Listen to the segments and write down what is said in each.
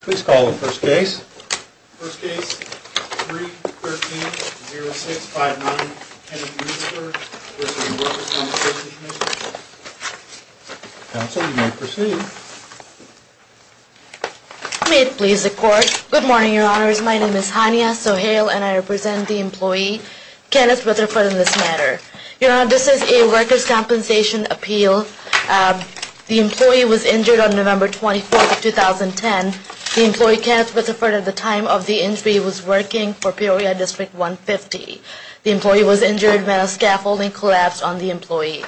Please call the first case. First case, 3-13-06-59, Kenneth Rutherford v. Workers' Compensation Commission. Counsel, you may proceed. May it please the Court. Good morning, Your Honors. My name is Hania Sohail and I represent the employee Kenneth Rutherford in this matter. Your Honor, this is a workers' compensation appeal. The employee was injured on November 24, 2010. The employee Kenneth Rutherford, at the time of the injury, was working for Peoria District 150. The employee was injured when a scaffolding collapsed on the employee.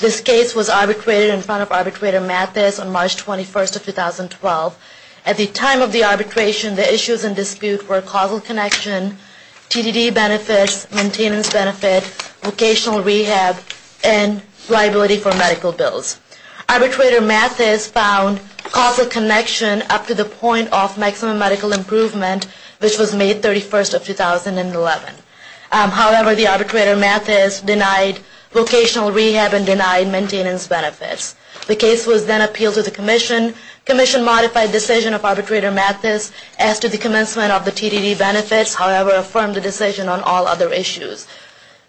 This case was arbitrated in front of Arbitrator Mathis on March 21, 2012. At the time of the arbitration, the issues in dispute were causal connection, TDD benefits, maintenance benefit, vocational rehab, and liability for medical bills. Arbitrator Mathis found causal connection up to the point of maximum medical improvement, which was May 31, 2011. However, the Arbitrator Mathis denied vocational rehab and denied maintenance benefits. The case was then appealed to the Commission. Commission modified decision of Arbitrator Mathis as to the commencement of the TDD benefits, however, affirmed the decision on all other issues.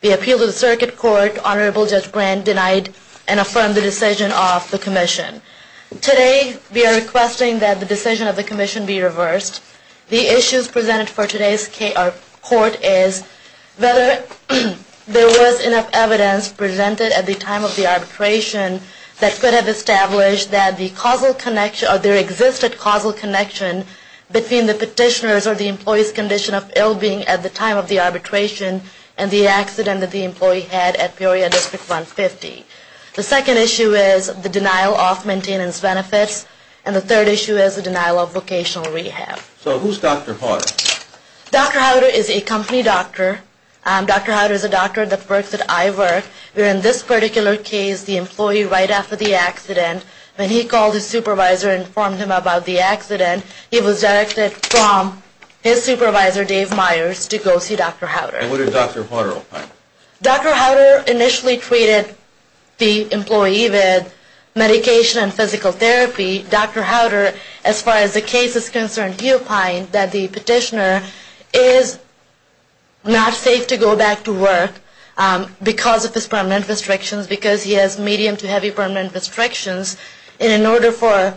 The appeal to the Circuit Court, Honorable Judge Brand denied and affirmed the decision of the Commission. Today, we are requesting that the decision of the Commission be reversed. The issues presented for today's court is whether there was enough evidence presented at the time of the arbitration that could have established that the causal connection, or there existed causal connection between the petitioner's or the employee's condition of ill-being at the time of the arbitration and the accident that the employee had at Peoria District 150. The second issue is the denial of maintenance benefits, and the third issue is the denial of vocational rehab. So who's Dr. Howder? Dr. Howder is a company doctor. Dr. Howder is a doctor that works at iWork. In this particular case, the employee right after the accident, when he called his supervisor and informed him about the accident, he was directed from his supervisor, Dave Myers, to go see Dr. Howder. And what did Dr. Howder opine? Dr. Howder initially treated the employee with medication and physical therapy. Dr. Howder, as far as the case is concerned, he opined that the petitioner is not safe to go back to work because of his permanent restrictions, because he has medium to heavy permanent restrictions. And in order for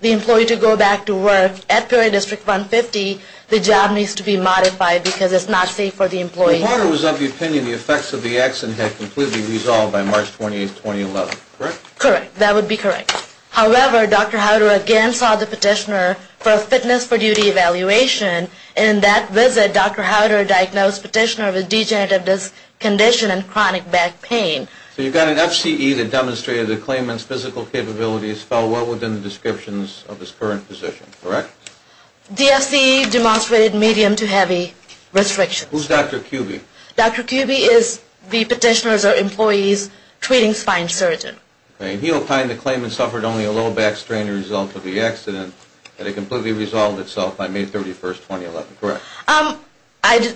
the employee to go back to work at Peoria District 150, the job needs to be modified because it's not safe for the employee. So Dr. Howder was of the opinion the effects of the accident had completely resolved by March 28, 2011, correct? Correct. That would be correct. However, Dr. Howder again saw the petitioner for a fitness for duty evaluation. In that visit, Dr. Howder diagnosed the petitioner with degenerative disc condition and chronic back pain. So you've got an FCE that demonstrated the claimant's physical capabilities fell well within the descriptions of his current position, correct? The FCE demonstrated medium to heavy restrictions. Who's Dr. Kuby? Dr. Kuby is the petitioner's or employee's treating spine surgeon. And he opined the claimant suffered only a low back strain as a result of the accident, and it completely resolved itself by May 31, 2011, correct? I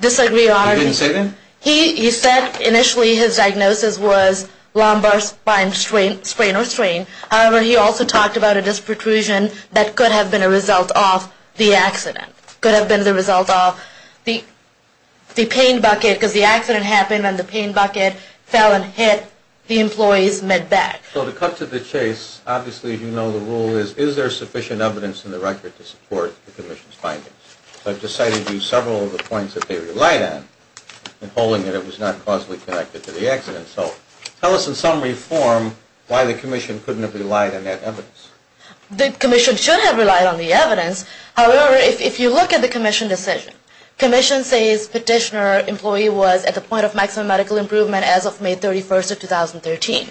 disagree, Your Honor. He didn't say that? He said initially his diagnosis was lumbar spine strain, however, he also talked about a disc protrusion that could have been a result of the accident. Could have been the result of the pain bucket, because the accident happened and the pain bucket fell and hit the employee's mid-back. So to cut to the chase, obviously you know the rule is, is there sufficient evidence in the record to support the commission's findings? I've just cited you several of the points that they relied on in holding that it was not causally connected to the accident. So tell us in summary form why the commission couldn't have relied on that evidence. The commission should have relied on the evidence. However, if you look at the commission decision, commission says petitioner employee was at the point of maximum medical improvement as of May 31, 2013.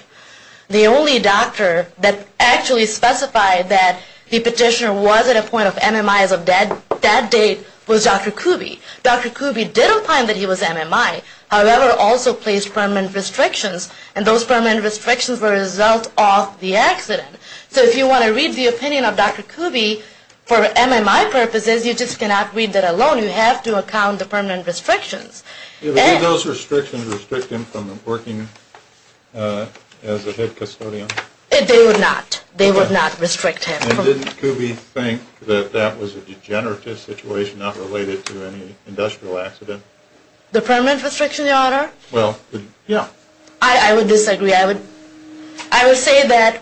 The only doctor that actually specified that the petitioner was at a point of MMI as of that date was Dr. Kuby. Dr. Kuby didn't find that he was MMI, however, also placed permanent restrictions, and those permanent restrictions were a result of the accident. So if you want to read the opinion of Dr. Kuby for MMI purposes, you just cannot read that alone. You have to account the permanent restrictions. Did those restrictions restrict him from working as a head custodian? They would not. They would not restrict him. And didn't Kuby think that that was a degenerative situation not related to any industrial accident? The permanent restriction, your honor? Well, yeah. I would disagree. I would say that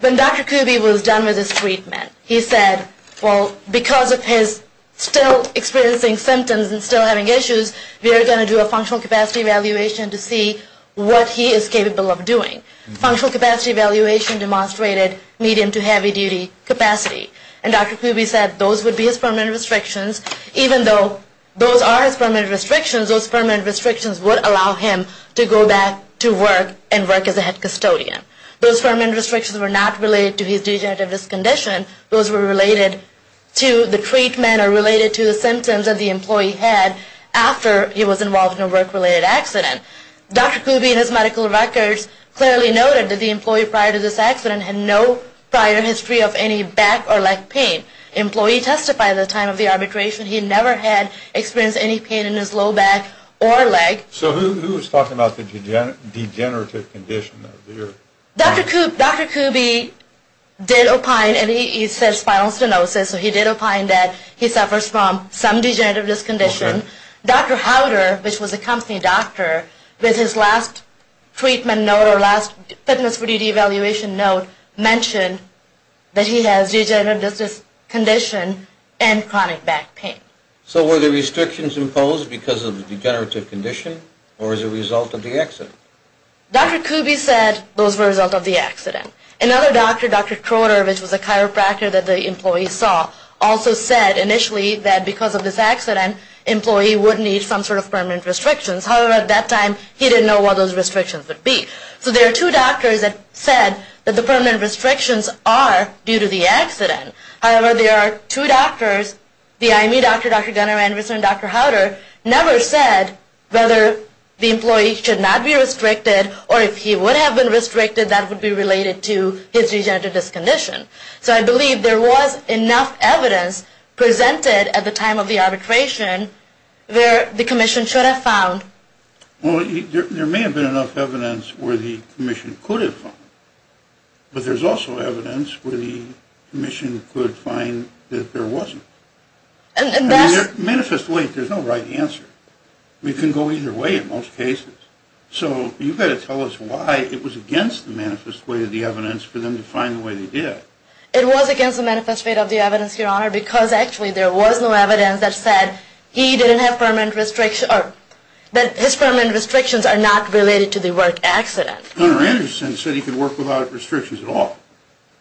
when Dr. Kuby was done with his treatment, he said, well, because of his still experiencing symptoms and still having issues, we are going to do a functional capacity evaluation to see what he is capable of doing. Functional capacity evaluation demonstrated medium to heavy duty capacity. And Dr. Kuby said those would be his permanent restrictions, even though those are his permanent restrictions, those permanent restrictions would allow him to go back to work and work as a head custodian. Those permanent restrictions were not related to his degenerative condition. Those were related to the treatment or related to the symptoms that the employee had after he was involved in a work-related accident. Dr. Kuby in his medical records clearly noted that the employee prior to this accident had no prior history of any back or leg pain. Employee testified at the time of the arbitration. He never had experienced any pain in his low back or leg. So who was talking about the degenerative condition? Dr. Kuby did opine, and he said spinal stenosis, so he did opine that he suffers from some degenerative discondition. Dr. Howder, which was a company doctor, with his last treatment note or last fitness for duty evaluation note, mentioned that he has degenerative condition and chronic back pain. So were the restrictions imposed because of the degenerative condition or as a result of the accident? Dr. Kuby said those were a result of the accident. Another doctor, Dr. Kroder, which was a chiropractor that the employee saw, also said initially that because of this accident, employee would need some sort of permanent restrictions. However, at that time, he didn't know what those restrictions would be. So there are two doctors that said that the permanent restrictions are due to the accident. However, there are two doctors, the IME doctor, Dr. Gunnar Anderson, and Dr. Howder, never said whether the employee should not be restricted or if he would have been restricted, that would be related to his degenerative discondition. So I believe there was enough evidence presented at the time of the arbitration where the commission should have found. Well, there may have been enough evidence where the commission could have found. But there's also evidence where the commission could find that there wasn't. And that's... Manifest way, there's no right answer. We can go either way in most cases. So you've got to tell us why it was against the manifest way of the evidence for them to find the way they did. It was against the manifest way of the evidence, Your Honor, because actually there was no evidence that said he didn't have permanent restriction or that his permanent restrictions are not related to the work accident. Gunnar Anderson said he could work without restrictions at all.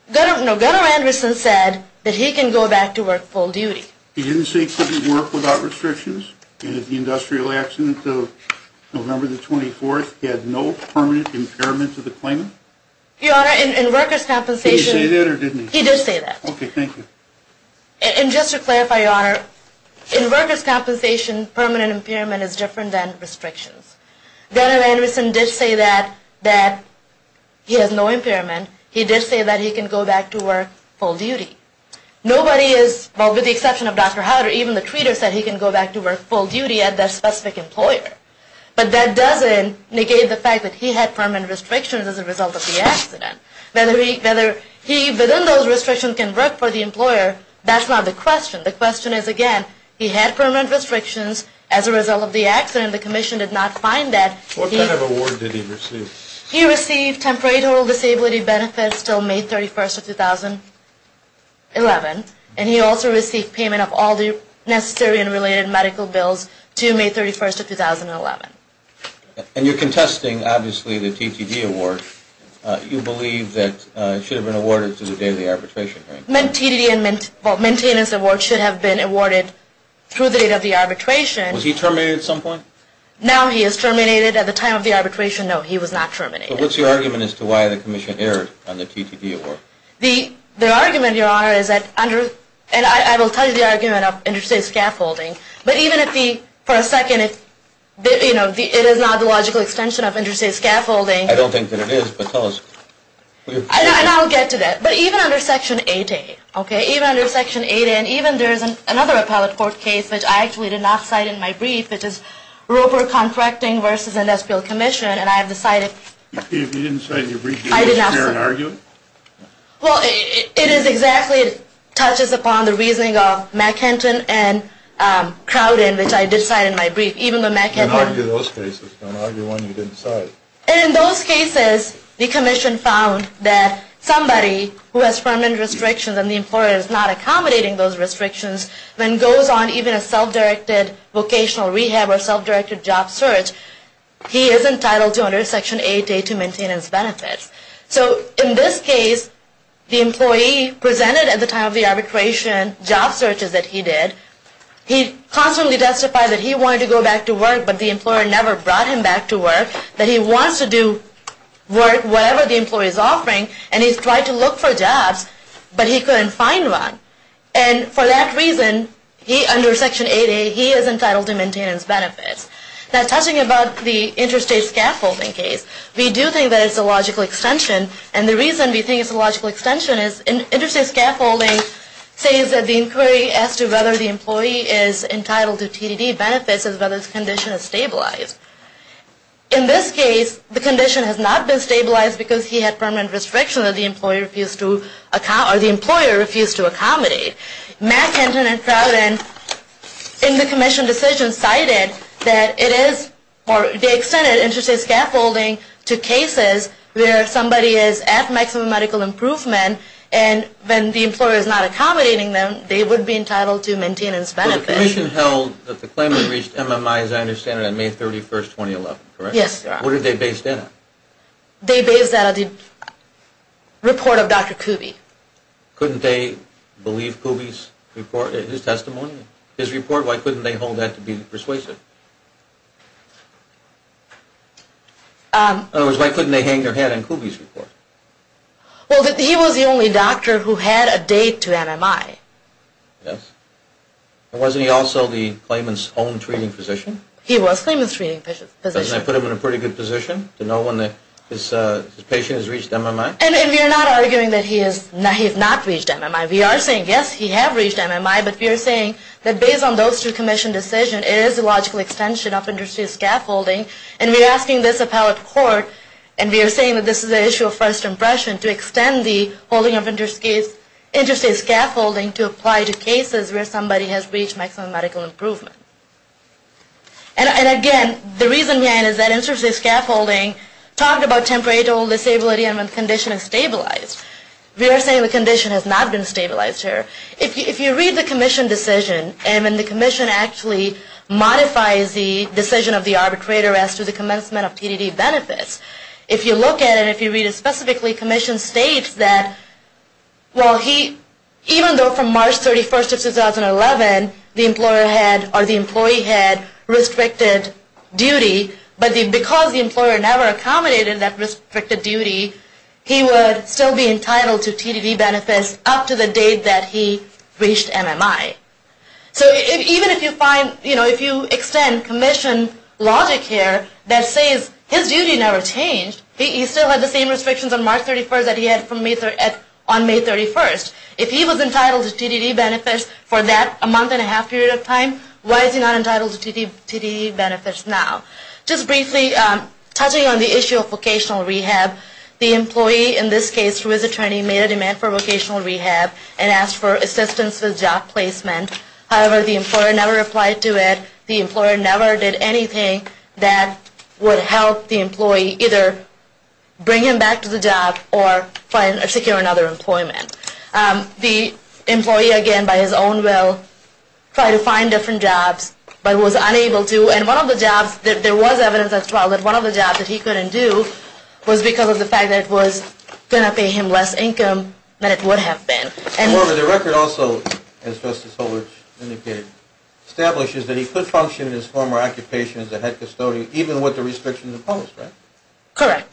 No, Gunnar Anderson said that he can go back to work full duty. He didn't say he couldn't work without restrictions? And at the industrial accident of November the 24th, he had no permanent impairment to the claimant? Your Honor, in workers' compensation... Did he say that or didn't he? He did say that. Okay, thank you. And just to clarify, Your Honor, in workers' compensation, permanent impairment is different than restrictions. Gunnar Anderson did say that he has no impairment. He did say that he can go back to work full duty. Nobody is... Well, with the exception of Dr. Howard, even the treater said he can go back to work full duty at that specific employer. But that doesn't negate the fact that he had permanent restrictions as a result of the accident. Whether he, within those restrictions, can work for the employer, that's not the question. The question is, again, he had permanent restrictions as a result of the accident. The Commission did not find that. What kind of award did he receive? He received temporary disability benefits until May 31st of 2011. And he also received payment of all the necessary and related medical bills to May 31st of 2011. And you're contesting, obviously, the TTG award. You believe that it should have been awarded to the date of the arbitration hearing? The TTD and MNTS award should have been awarded through the date of the arbitration. Was he terminated at some point? Now he is terminated at the time of the arbitration. No, he was not terminated. So what's your argument as to why the Commission erred on the TTD award? The argument, Your Honor, is that under... And I will tell you the argument of interstate scaffolding. But even if the... For a second, it's... You know, it is not the logical extension of interstate scaffolding. I don't think that it is, but tell us. And I'll get to that. But even under Section 8A, okay? Even under Section 8A, and even there is another appellate court case, which I actually did not cite in my brief, which is Roper Contracting v. Industrial Commission, and I have decided... You didn't cite your brief? I did not cite it. Is there an argument? Well, it is exactly... It touches upon the reasoning of McHenton and Crowden, which I did cite in my brief. Even though McHenton... Don't argue those cases. Don't argue one you didn't cite. And in those cases, the Commission found that somebody who has permanent restrictions and the employer is not accommodating those restrictions, then goes on even a self-directed vocational rehab or self-directed job search, he is entitled to under Section 8A to maintain his benefits. So in this case, the employee presented at the time of the arbitration job searches that he did. He constantly testified that he wanted to go back to work, but the employer never brought him back to work, that he wants to do work, whatever the employee is offering, and he tried to look for jobs, but he couldn't find one. And for that reason, under Section 8A, he is entitled to maintain his benefits. Now, touching about the interstate scaffolding case, we do think that it's a logical extension. And the reason we think it's a logical extension is interstate scaffolding says that the inquiry as to whether the employee is entitled to TDD benefits is whether the condition is stabilized. In this case, the condition has not been stabilized because he had permanent restriction that the employer refused to accommodate. Mack, Hinton, and Crowden in the commission decision cited that it is, or they extended interstate scaffolding to cases where somebody is at maximum medical improvement and when the employer is not accommodating them, they would be entitled to maintain his benefits. The commission held that the claimant reached MMI, as I understand it, on May 31, 2011, correct? Yes. What are they based in on? They based that on the report of Dr. Kuby. Couldn't they believe Kuby's report, his testimony, his report? Why couldn't they hold that to be persuasive? In other words, why couldn't they hang their head on Kuby's report? Well, he was the only doctor who had a date to MMI. Yes. And wasn't he also the claimant's own treating physician? He was the claimant's own treating physician. Doesn't that put him in a pretty good position to know when his patient has reached MMI? And we are not arguing that he has not reached MMI. We are saying, yes, he has reached MMI, but we are saying that based on those two commission decisions, it is a logical extension of interstate scaffolding. And we are asking this appellate court, and we are saying that this is an issue of first impression, to extend the holding of interstate scaffolding to apply to cases where somebody has reached maximum medical improvement. And again, the reason, again, is that interstate scaffolding talked about temporary disability and when the condition is stabilized. We are saying the condition has not been stabilized here. If you read the commission decision, and the commission actually modifies the decision of the arbitrator as to the commencement of TDD benefits, if you look at it, if you read it specifically, the commission states that, well, he even though from March 31st of 2011, the employer had, or the employee had, restricted duty, but because the employer never accommodated that restricted duty, he would still be entitled to TDD benefits up to the date that he reached MMI. So even if you find, if you extend commission logic here that says his duty never changed, he still had the same restrictions on March 31st that he had on May 31st. If he was entitled to TDD benefits for that a month and a half period of time, why is he not entitled to TDD benefits now? Just briefly, touching on the issue of vocational rehab, the employee, in this case, who is attorney, made a demand for vocational rehab and asked for assistance with job placement. However, the employer never replied to it. The employer never did anything that would help the employee either bring him back to the job or find or secure another employment. The employee, again, by his own will, tried to find different jobs, but was unable to. And one of the jobs that there was evidence as well, that one of the jobs that he couldn't do was because of the fact that it was going to pay him less income than it would have been. However, the record also, as Justice Solich indicated, establishes that he could function in his former occupation as a head custodian even with the restrictions imposed, right? Correct.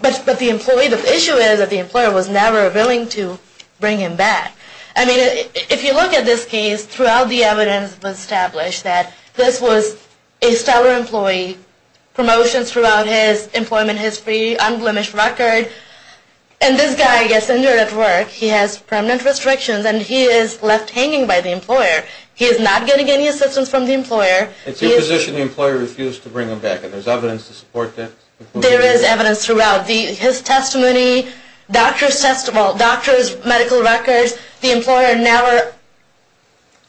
But the employee, the issue is that the employer was never willing to bring him back. I mean, if you look at this case, throughout the evidence was established that this was a stellar employee, promotions throughout his employment history, unblemished record. And this guy gets injured at work. He has permanent restrictions. And he is left hanging by the employer. He is not getting any assistance from the employer. It's your position the employer refused to bring him back. And there's evidence to support that? There is evidence throughout. His testimony, doctor's medical records, the employer never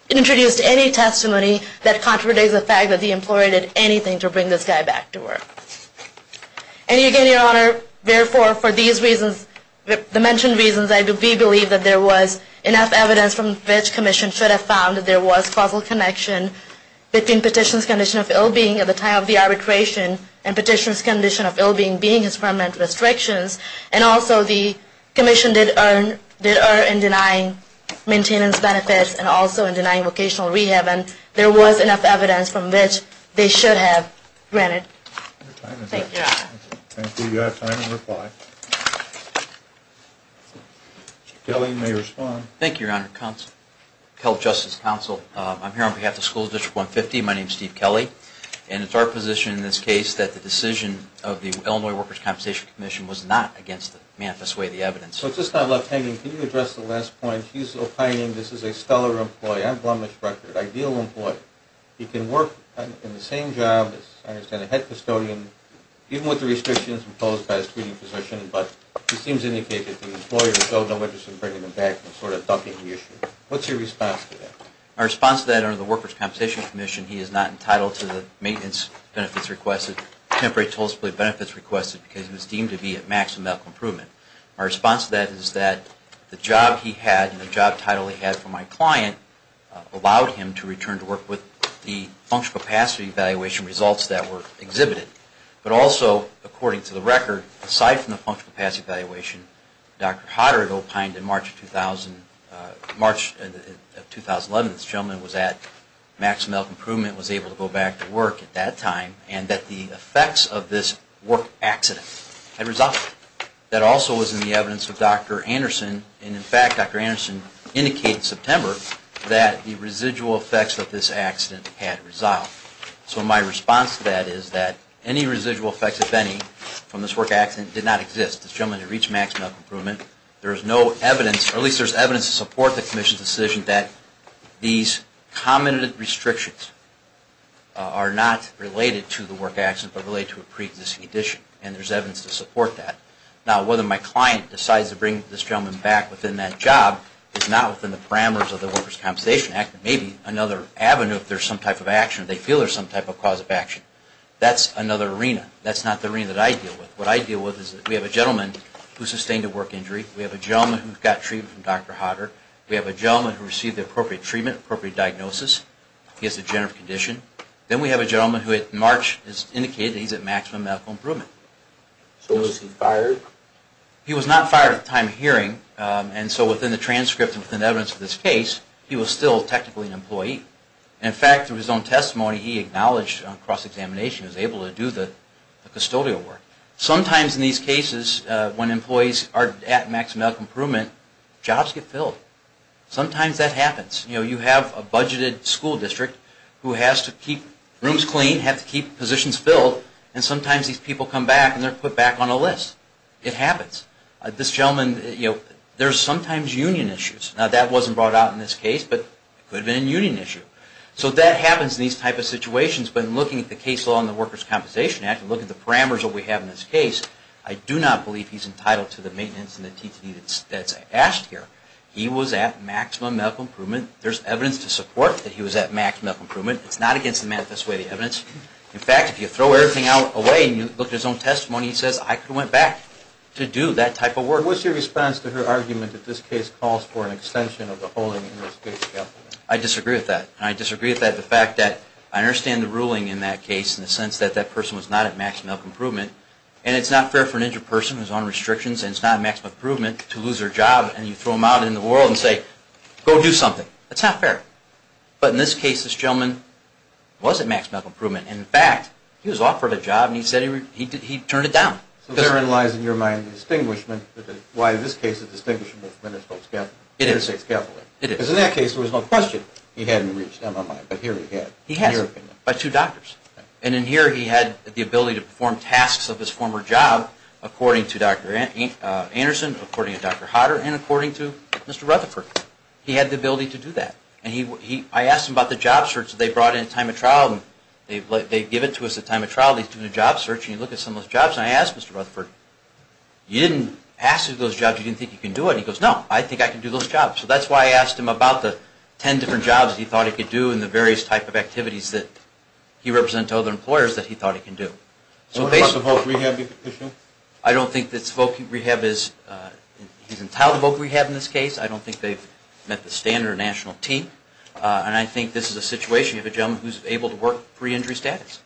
introduced any testimony that contradicts the fact that the employer did anything to bring this guy back to work. And again, Your Honor, therefore, for these reasons, the mentioned reasons, I do believe that there was enough evidence from which commission should have found that there was causal connection between petition's condition of ill-being at the time of the arbitration and petition's condition of ill-being being his permanent restrictions. And also, the commission did err in denying maintenance benefits and also in denying vocational rehab. And there was enough evidence from which they should have granted. Thank you, Your Honor. Thank you. Thank you. You have time to reply. Thank you, Your Honor. Health Justice Counsel, I'm here on behalf of School District 150. My name's Steve Kelly. And it's our position in this case that the decision of the Illinois Workers' Compensation Commission was not against the manifest way of the evidence. So it's just not left hanging. Can you address the last point? He's opining this is a stellar employee, an unblemished record, ideal employee. He can work in the same job as, I understand, a head custodian, even with the restrictions imposed by his treating position. But he seems to indicate that the employer is no longer interested in bringing him back and sort of dumping the issue. What's your response to that? My response to that, under the Workers' Compensation Commission, he is not entitled to the maintenance benefits requested, temporary toll split benefits requested, because he was deemed to be at maximum medical improvement. My response to that is that the job he had and the job title he had for my client allowed him to return to work with the functional capacity evaluation results that were exhibited. But also, according to the record, aside from the functional capacity evaluation, Dr. Hodder had opined in March of 2011 that this gentleman was at maximum medical improvement, was able to go back to work at that time, and that the effects of this work accident had resolved. That also was in the evidence of Dr. Anderson. And in fact, Dr. Anderson indicated in September that the residual effects of this accident had resolved. So my response to that is that any residual effects, if any, from this work accident did not exist. This gentleman had reached maximum improvement. There is no evidence, or at least there's evidence to support the commission's decision that these common restrictions are not related to the work accident, but related to a pre-existing condition. And there's evidence to support that. Now, whether my client decides to bring this gentleman back within that job is not within the parameters of the Workers' Compensation Act. It may be another avenue if there's some type of action, if they feel there's some type of cause of action. That's another arena. That's not the arena that I deal with. What I deal with is that we have a gentleman who sustained a work injury. We have a gentleman who got treatment from Dr. Hodder. We have a gentleman who received the appropriate treatment, appropriate diagnosis. He has a general condition. Then we have a gentleman who, in March, has indicated that he's at maximum medical improvement. So was he fired? He was not fired at the time of hearing. And so within the transcript and within the evidence of this case, he was still technically an employee. In fact, through his own testimony, he acknowledged on cross-examination that he was able to do the custodial work. Sometimes in these cases, when employees are at maximum medical improvement, jobs get filled. Sometimes that happens. You have a budgeted school district who has to keep rooms clean, have to keep positions filled. And sometimes these people come back, and they're put back on a list. It happens. This gentleman, there's sometimes union issues. Now, that wasn't brought out in this case, but it could have been a union issue. So that happens in these type of situations. But in looking at the case law in the Workers' Compensation Act, look at the parameters that we have in this case, I do not believe he's entitled to the maintenance and the TTA that's asked here. He was at maximum medical improvement. There's evidence to support that he was at maximum medical improvement. It's not against the manifesto of the evidence. In fact, if you throw everything out away, and you look at his own testimony, he says, I could have went back to do that type of work. What's your response to her argument that this case calls for an extension of the holding I disagree with that. I disagree with the fact that I understand the ruling in that case in the sense that that person was not at maximum medical improvement. And it's not fair for an injured person who's on restrictions, and it's not maximum improvement to lose their job, and you throw them out in the world and say, go do something. That's not fair. But in this case, this gentleman was at maximum improvement. And in fact, he was offered a job, and he turned it down. So therein lies, in your mind, the distinguishment with why this case is distinguishable from Minnesota's Catholic. It is. It is. Because in that case, there was no question he hadn't reached MMI. But here he had. He has. By two doctors. And in here, he had the ability to perform tasks of his former job, according to Dr. Anderson, according to Dr. Hodder, and according to Mr. Rutherford. He had the ability to do that. And I asked him about the job search that they brought in at time of trial. They give it to us at time of trial. He's doing a job search, and you look at some of those jobs. And I asked Mr. Rutherford, you didn't ask him those jobs. You didn't think you can do it? He goes, no. I think I can do those jobs. So that's why I asked him about the 10 different jobs he thought he could do and the various type of activities that he represented to other employers that he thought he can do. What about the Voc Rehab issue? I don't think that Voc Rehab is, he's entitled to Voc Rehab in this case. I don't think they've met the standard of a national team. And I think this is a situation. You have a gentleman who's able to work pre-injury status.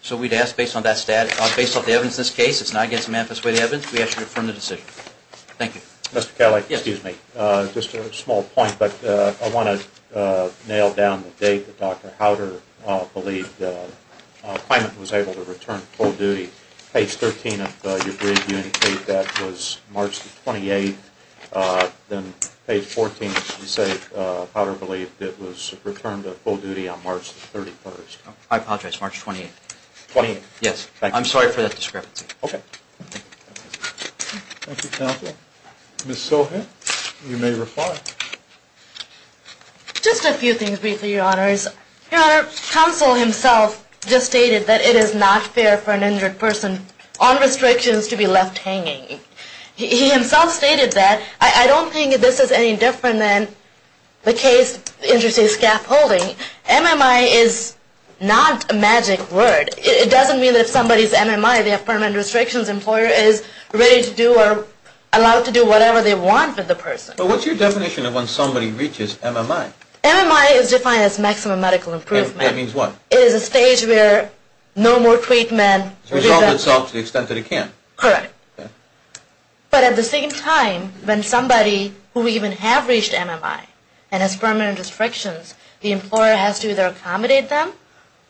So we'd ask based on that status, based on the evidence in this case, it's not against the manifest way of the evidence, we ask you to affirm the decision. Thank you. Mr. Kelly, excuse me. Just a small point, but I want to nail down the date that Dr. Howder believed the client was able to return to full duty. Page 13 of your brief, you indicate that was March 28. Then page 14, you say, Howder believed it was returned to full duty on March 31. I apologize, March 28. Yes. I'm sorry for that discrepancy. OK. Thank you, counsel. Ms. Soha, you may reply. Just a few things briefly, your honors. Your honor, counsel himself just stated that it is not fair for an injured person on restrictions to be left hanging. He himself stated that. I don't think this is any different than the case interested in scaffolding. MMI is not a magic word. It doesn't mean that if somebody's MMI, the Affirmed Restrictions Employer, is ready to do or allowed to do whatever they want with the person. But what's your definition of when somebody reaches MMI? MMI is defined as Maximum Medical Improvement. That means what? It is a stage where no more treatment. Resolves itself to the extent that it can. Correct. But at the same time, when somebody who even have reached MMI and has permanent restrictions, the employer has to either accommodate them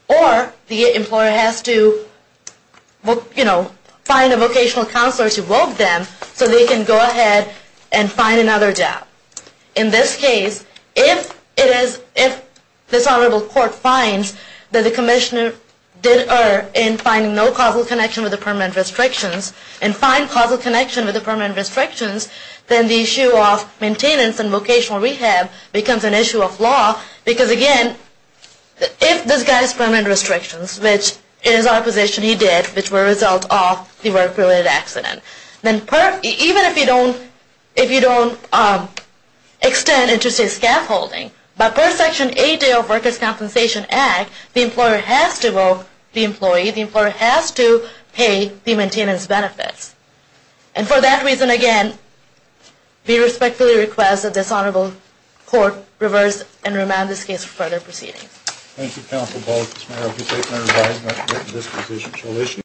or the employer has to find a vocational counselor to vote them so they can go ahead and find another job. In this case, if this honorable court finds that the commissioner did err in finding no causal connection with the permanent restrictions and find causal connection with the permanent restrictions, then the issue of maintenance and vocational rehab becomes an issue of law. Because again, if this guy has permanent restrictions, which in his opposition he did, which were a result of the work related accident, then even if you don't extend interstate scaffolding, but per Section 8A of Workers Compensation Act, the employer has to vote the employee. The employer has to pay the maintenance benefits. And for that reason, again, we respectfully request that this honorable court reverse and remand this case for further proceedings. Thank you, Counsel Ball. If this may, I would like to take my advisement that this position shall issue.